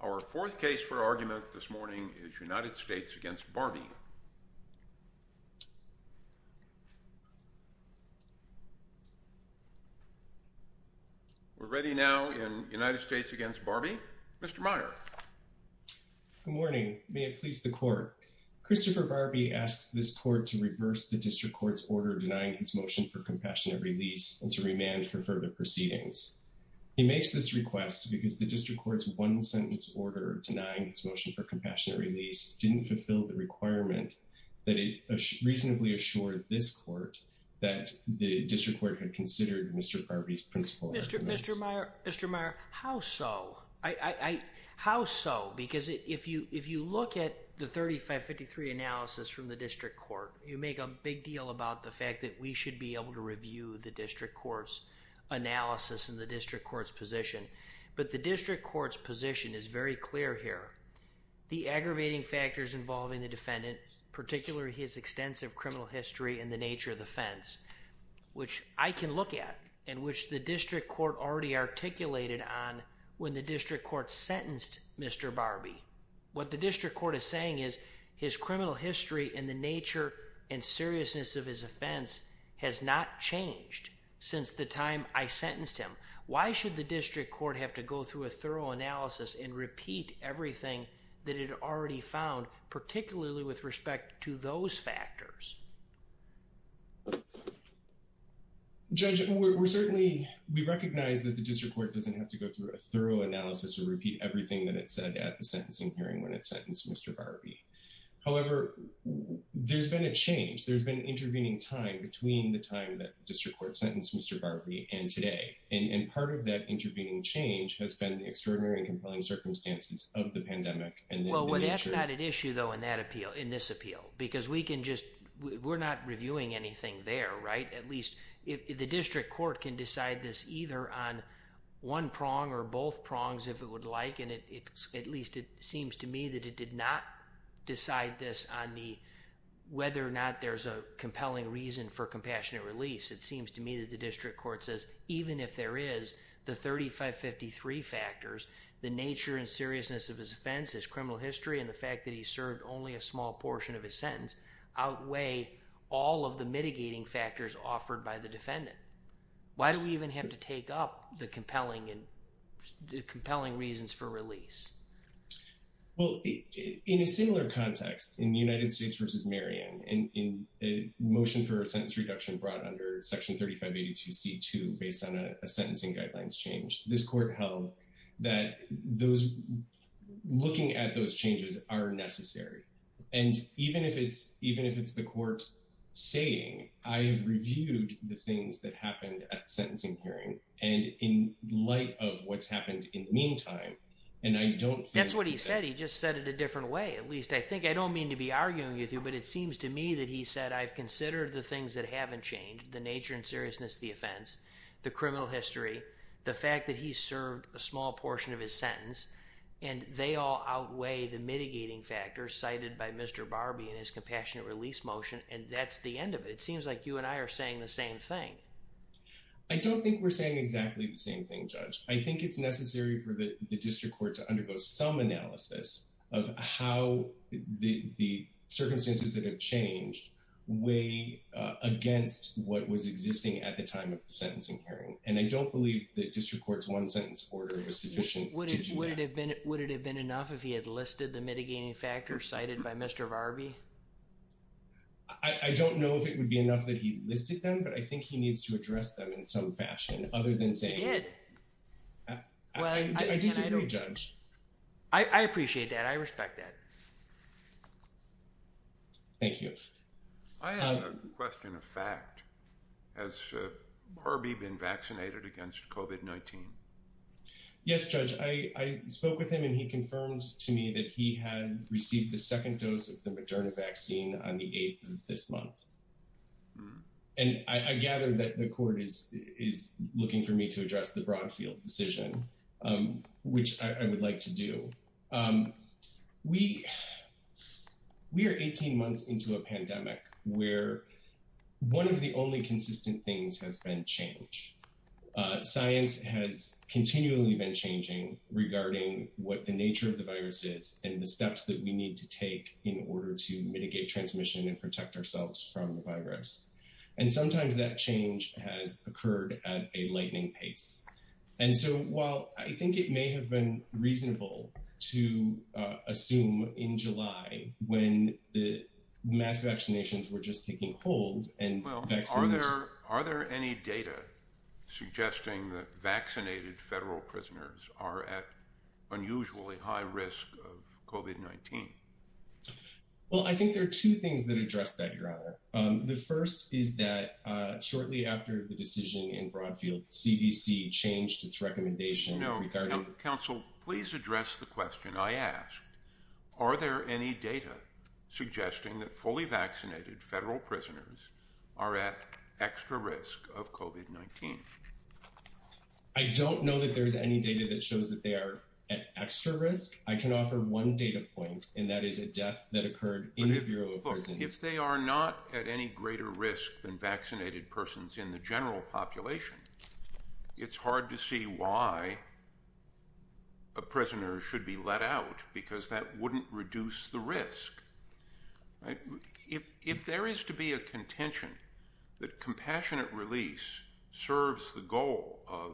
Our fourth case for argument this morning is United States v. Barbee. We're ready now in United States v. Barbee. Mr. Meyer. Good morning. May it please the Court. Christopher Barbee asks this Court to reverse the District Court's order denying his motion for compassionate release and to remand for further proceedings. He makes this request because the District Court's one-sentence order denying his motion for compassionate release didn't fulfill the requirement that it reasonably assured this Court that the District Court had considered Mr. Barbee's principal arguments. Mr. Meyer, how so? How so? Because if you look at the 3553 analysis from the District Court, you make a big deal about the fact that we should be able to review the District Court's analysis and the District Court's position. But the District Court's position is very clear here. The aggravating factors involving the defendant, particularly his extensive criminal history and the nature of the offense, which I can look at and which the District Court already articulated on when the District Court sentenced Mr. Barbee, what the District Court is saying is his criminal history and the nature and seriousness of his offense has not changed since the time I sentenced him. Why should the District Court have to go through a thorough analysis and repeat everything that it already found, particularly with respect to those factors? Judge, we're certainly, we recognize that the District Court doesn't have to go through a thorough analysis or repeat everything that it said at the sentencing hearing when it sentenced Mr. Barbee. However, there's been a change. There's been an intervening time between the time that the District Court sentenced Mr. Barbee and today. And part of that intervening change has been the extraordinary and compelling circumstances of the pandemic. Well, that's not an issue, though, in that appeal, in this appeal, because we can just, we're not reviewing anything there, right? At least the District Court can decide this either on one prong or both prongs if it would like. And at least it seems to me that it did not decide this on the, whether or not there's a compelling reason for compassionate release. It seems to me that the District Court says, even if there is, the 3553 factors, the nature and seriousness of his offense, his criminal history, and the fact that he served only a small portion of his sentence, outweigh all of the mitigating factors offered by the defendant. Why do we even have to take up the compelling and compelling reasons for release? Well, in a similar context, in the United States v. Marion, in a motion for a sentence reduction brought under Section 3582C2 based on a sentencing guidelines change, this court held that those, looking at those changes are necessary. And even if it's, even if it's the court saying, I have reviewed the things that happened at the sentencing hearing, and in light of what's happened in the meantime, and I don't think… That's what he said, he just said it a different way. At least I think, I don't mean to be arguing with you, but it seems to me that he said, I've considered the things that haven't changed, the nature and seriousness of the offense, the criminal history, the fact that he served a small portion of his sentence, and they all outweigh the mitigating factors cited by Mr. Barbie in his compassionate release motion, and that's the end of it. It seems like you and I are saying the same thing. I don't think we're saying exactly the same thing, Judge. I think it's necessary for the district court to undergo some analysis of how the circumstances that have changed weigh against what was existing at the time of the sentencing hearing, and I don't believe that district court's one sentence order was sufficient to do that. Would it have been enough if he had listed the mitigating factors cited by Mr. Barbie? I don't know if it would be enough that he listed them, but I think he needs to address them in some fashion, other than saying… He did. I disagree, Judge. I appreciate that, I respect that. Thank you. I have a question of fact. Has Barbie been vaccinated against COVID-19? Yes, Judge. I spoke with him and he confirmed to me that he had received the second dose of the Moderna vaccine on the 8th of this month. And I gather that the court is looking for me to address the Broadfield decision, which I would like to do. We are 18 months into a pandemic where one of the only consistent things has been change. Science has continually been changing regarding what the nature of the virus is and the steps that we need to take in order to mitigate transmission and protect ourselves from the virus. And sometimes that change has occurred at a lightning pace. And so while I think it may have been reasonable to assume in July when the mass vaccinations were just taking hold… Are there any data suggesting that vaccinated federal prisoners are at unusually high risk of COVID-19? Well, I think there are two things that address that, Your Honor. The first is that shortly after the decision in Broadfield, CDC changed its recommendation regarding… I don't know that there's any data that shows that they are at extra risk. I can offer one data point, and that is a death that occurred in the Bureau of Prisons. If they are not at any greater risk than vaccinated persons in the general population, it's hard to see why a prisoner should be let out because that wouldn't reduce the risk. If there is to be a contention that compassionate release serves the goal of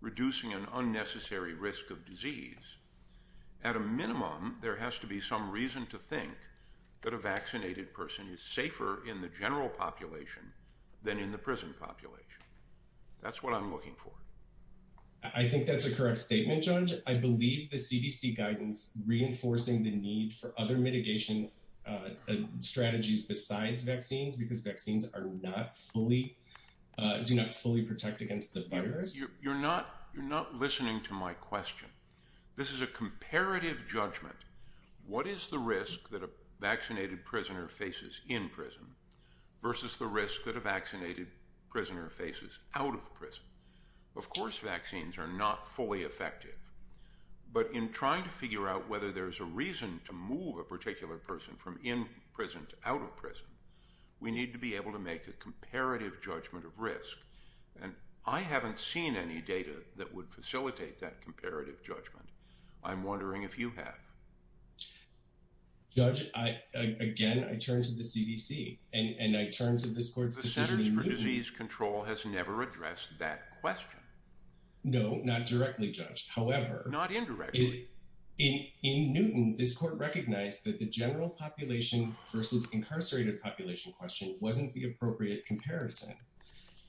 reducing an unnecessary risk of disease, at a minimum, there has to be some reason to think that a vaccinated person is safer in the general population than in the prison population. That's what I'm looking for. I think that's a correct statement, Judge. I believe the CDC guidance reinforcing the need for other mitigation strategies besides vaccines because vaccines do not fully protect against the virus. You're not listening to my question. This is a comparative judgment. What is the risk that a vaccinated prisoner faces in prison versus the risk that a vaccinated prisoner faces out of prison? Of course, vaccines are not fully effective. But in trying to figure out whether there's a reason to move a particular person from in prison to out of prison, we need to be able to make a comparative judgment of risk. And I haven't seen any data that would facilitate that comparative judgment. I'm wondering if you have. Judge, again, I turn to the CDC, and I turn to this court's decision in Newton. The Centers for Disease Control has never addressed that question. No, not directly, Judge. However. Not indirectly. In Newton, this court recognized that the general population versus incarcerated population question wasn't the appropriate comparison.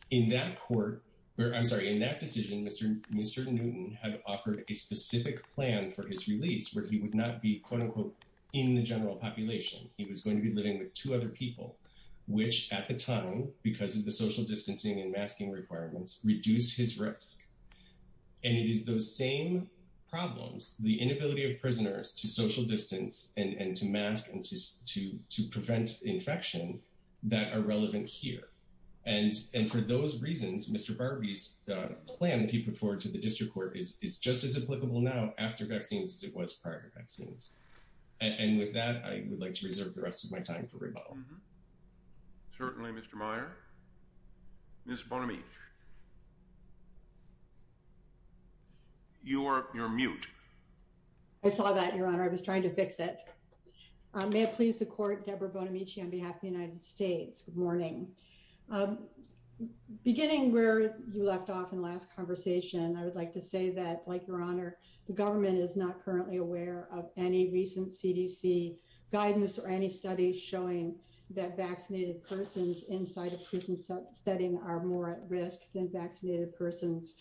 In that decision, Mr. Newton had offered a specific plan for his release where he would not be, quote, unquote, in the general population. He was going to be living with two other people, which at the time, because of the social distancing and masking requirements, reduced his risk. And it is those same problems, the inability of prisoners to social distance and to mask and to prevent infection that are relevant here. And for those reasons, Mr. Barbee's plan that he put forward to the district court is just as applicable now after vaccines as it was prior to vaccines. And with that, I would like to reserve the rest of my time for rebuttal. Certainly, Mr. Meyer. Ms. Bonamici. You're mute. I saw that, Your Honor. I was trying to fix it. May it please the court, Deborah Bonamici on behalf of the United States. Good morning. Beginning where you left off in the last conversation, I would like to say that, like Your Honor, the government is not currently aware of any recent CDC guidance or any studies showing that vaccinated persons inside a prison setting are more at risk than vaccinated persons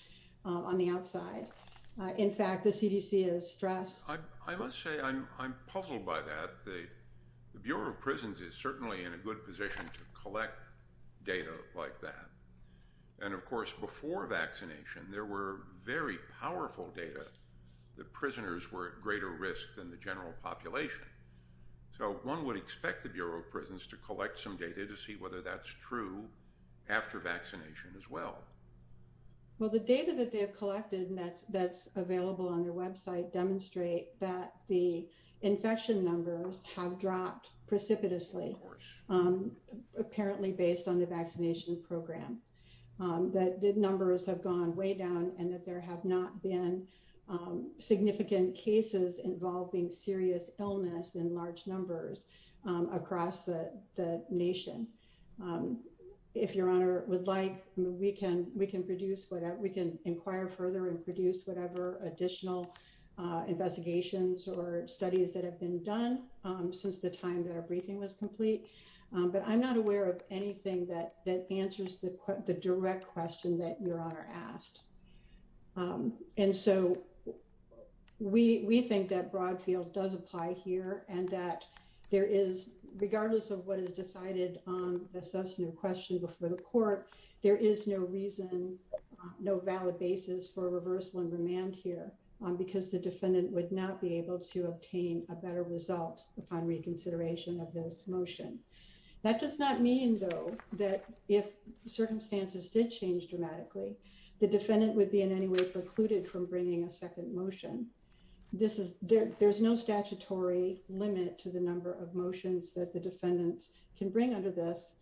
on the outside. In fact, the CDC is stressed. I must say I'm puzzled by that. The Bureau of Prisons is certainly in a good position to collect data like that. And, of course, before vaccination, there were very powerful data that prisoners were at greater risk than the general population. So one would expect the Bureau of Prisons to collect some data to see whether that's true after vaccination as well. Well, the data that they have collected and that's available on their website demonstrate that the infection numbers have dropped precipitously, apparently based on the vaccination program. The numbers have gone way down and that there have not been significant cases involving serious illness in large numbers across the nation. If Your Honor would like, we can inquire further and produce whatever additional investigations or studies that have been done since the time that our briefing was complete. But I'm not aware of anything that answers the direct question that Your Honor asked. And so we think that broad field does apply here and that there is, regardless of what is decided on the question before the court, there is no reason, no valid basis for reversal and remand here, because the defendant would not be able to obtain a better result upon reconsideration of this motion. That does not mean, though, that if circumstances did change dramatically, the defendant would be in any way precluded from bringing a second motion. There's no statutory limit to the number of motions that the defendants can bring under this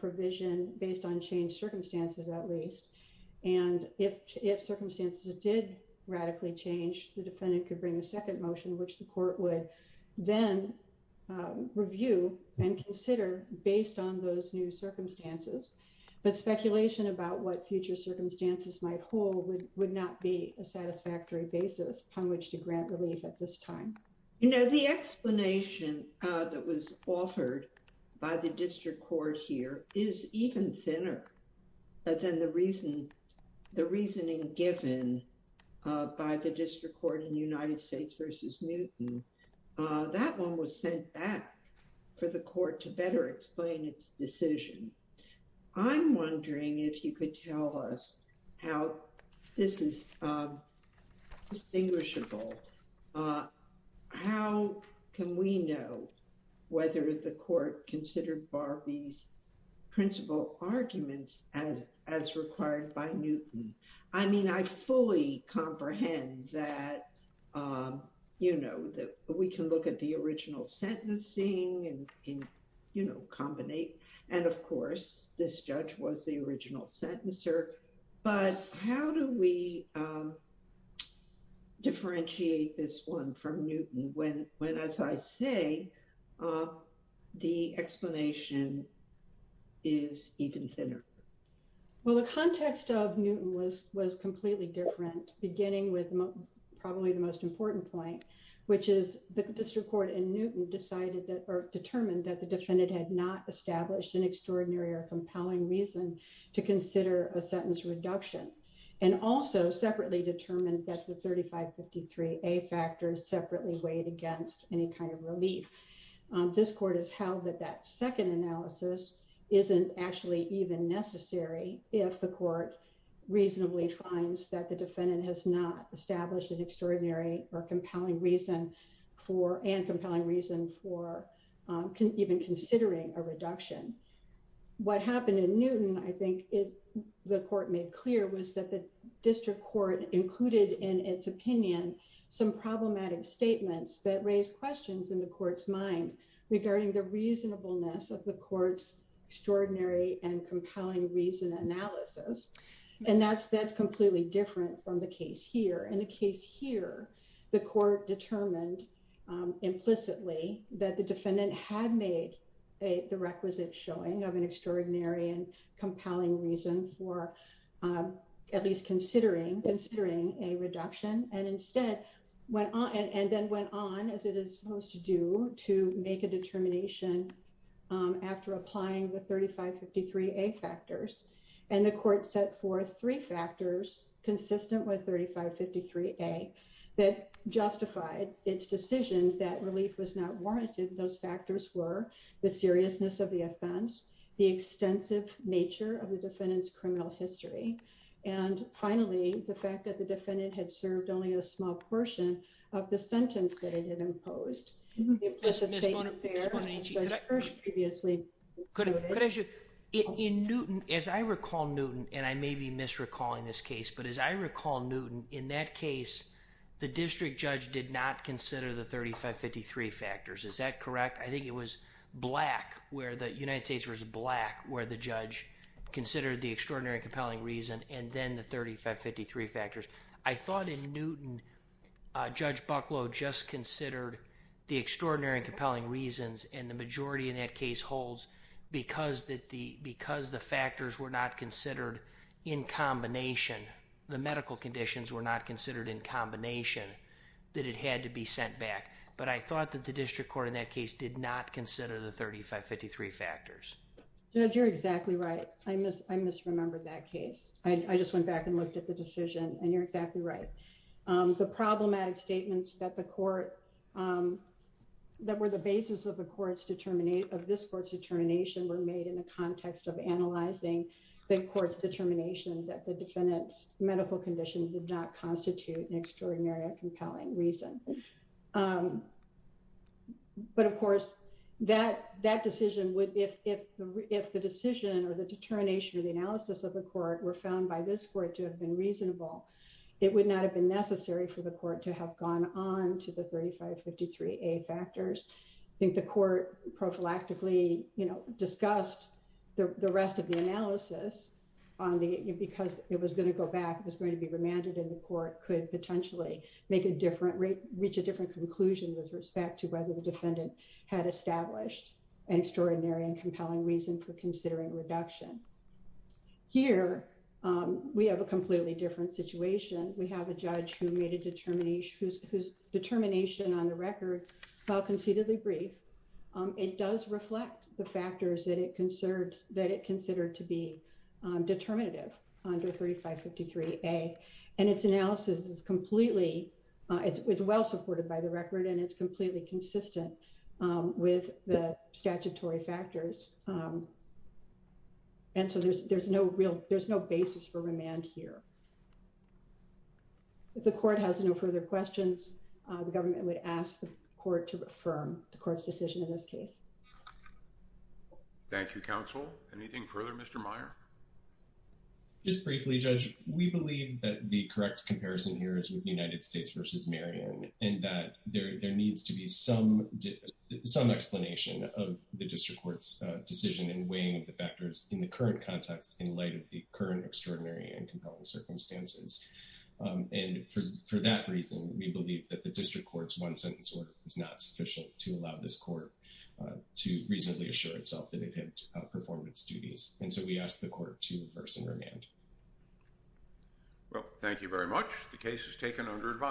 provision, based on changed circumstances at least. And if circumstances did radically change, the defendant could bring a second motion, which the court would then review and consider based on those new circumstances. But speculation about what future circumstances might hold would not be a satisfactory basis upon which to grant relief at this time. You know, the explanation that was offered by the district court here is even thinner than the reasoning given by the district court in United States v. Newton. That one was sent back for the court to better explain its decision. I'm wondering if you could tell us how this is distinguishable. How can we know whether the court considered Barbee's principal arguments as required by Newton? I mean, I fully comprehend that, you know, that we can look at the original sentencing and, you know, combinate. And of course, this judge was the original sentencer. But how do we differentiate this one from Newton when, as I say, the explanation is even thinner? Well, the context of Newton was completely different, beginning with probably the most important point, which is the district court in Newton determined that the defendant had not established an extraordinary or compelling reason to consider a sentence reduction and also separately determined that the 3553A factor separately weighed against any kind of relief. This court has held that that second analysis isn't actually even necessary if the court reasonably finds that the defendant has not established an extraordinary or compelling reason for and compelling reason for even considering a reduction. What happened in Newton, I think, the court made clear, was that the district court included in its opinion some problematic statements that raised questions in the court's mind regarding the reasonableness of the court's extraordinary and compelling reason analysis. And that's completely different from the case here. In the case here, the court determined implicitly that the defendant had made the requisite showing of an extraordinary and compelling reason for at least considering a reduction and then went on, as it is supposed to do, to make a determination after applying the 3553A factors. And the court set forth three factors consistent with 3553A that justified its decision that relief was not warranted. Those factors were the seriousness of the offense, the extensive nature of the defendant's criminal history, and finally, the fact that the defendant had served only a small portion of the sentence that it had imposed. Ms. Monaghan, could I ask you, in Newton, as I recall Newton, and I may be misrecalling this case, but as I recall Newton, in that case, the district judge did not consider the 3553 factors. Is that correct? I think it was Black, where the United States was Black, where the judge considered the extraordinary and compelling reason and then the 3553 factors. I thought in Newton, Judge Bucklow just considered the extraordinary and compelling reasons and the majority in that case holds because the factors were not considered in combination, the medical conditions were not considered in combination, that it had to be sent back. But I thought that the district court in that case did not consider the 3553 factors. Judge, you're exactly right. I misremembered that case. I just went back and looked at the decision and you're exactly right. The problematic statements that the court, that were the basis of the court's determination, of this court's determination were made in the context of analyzing the court's determination that the defendant's medical condition did not constitute an extraordinary and compelling reason. But of course, that decision would, if the decision or the determination or the analysis of the court were found by this court to have been reasonable, it would not have been necessary for the court to have gone on to the 3553A factors. I think the court prophylactically discussed the rest of the analysis because it was going to go back, it was going to be remanded and the court could potentially make a different, reach a different conclusion with respect to whether the defendant had established an extraordinary and compelling reason for considering reduction. Here, we have a completely different situation. We have a judge who made a determination, whose determination on the record, while conceitedly brief, it does reflect the factors that it considered to be determinative under 3553A. And its analysis is completely, it's well supported by the record and it's completely consistent with the statutory factors. And so there's no basis for remand here. If the court has no further questions, the government would ask the court to affirm the court's decision in this case. Thank you, counsel. Anything further, Mr. Meyer? Just briefly, Judge, we believe that the correct comparison here is with United States v. Marion, and that there needs to be some explanation of the district court's decision in weighing the factors in the current context in light of the current extraordinary and compelling circumstances. And for that reason, we believe that the district court's one-sentence order is not sufficient to allow this court to reasonably assure itself that it had performed its duties. And so we ask the court to reverse and remand. Well, thank you very much. The case is taken under advisory.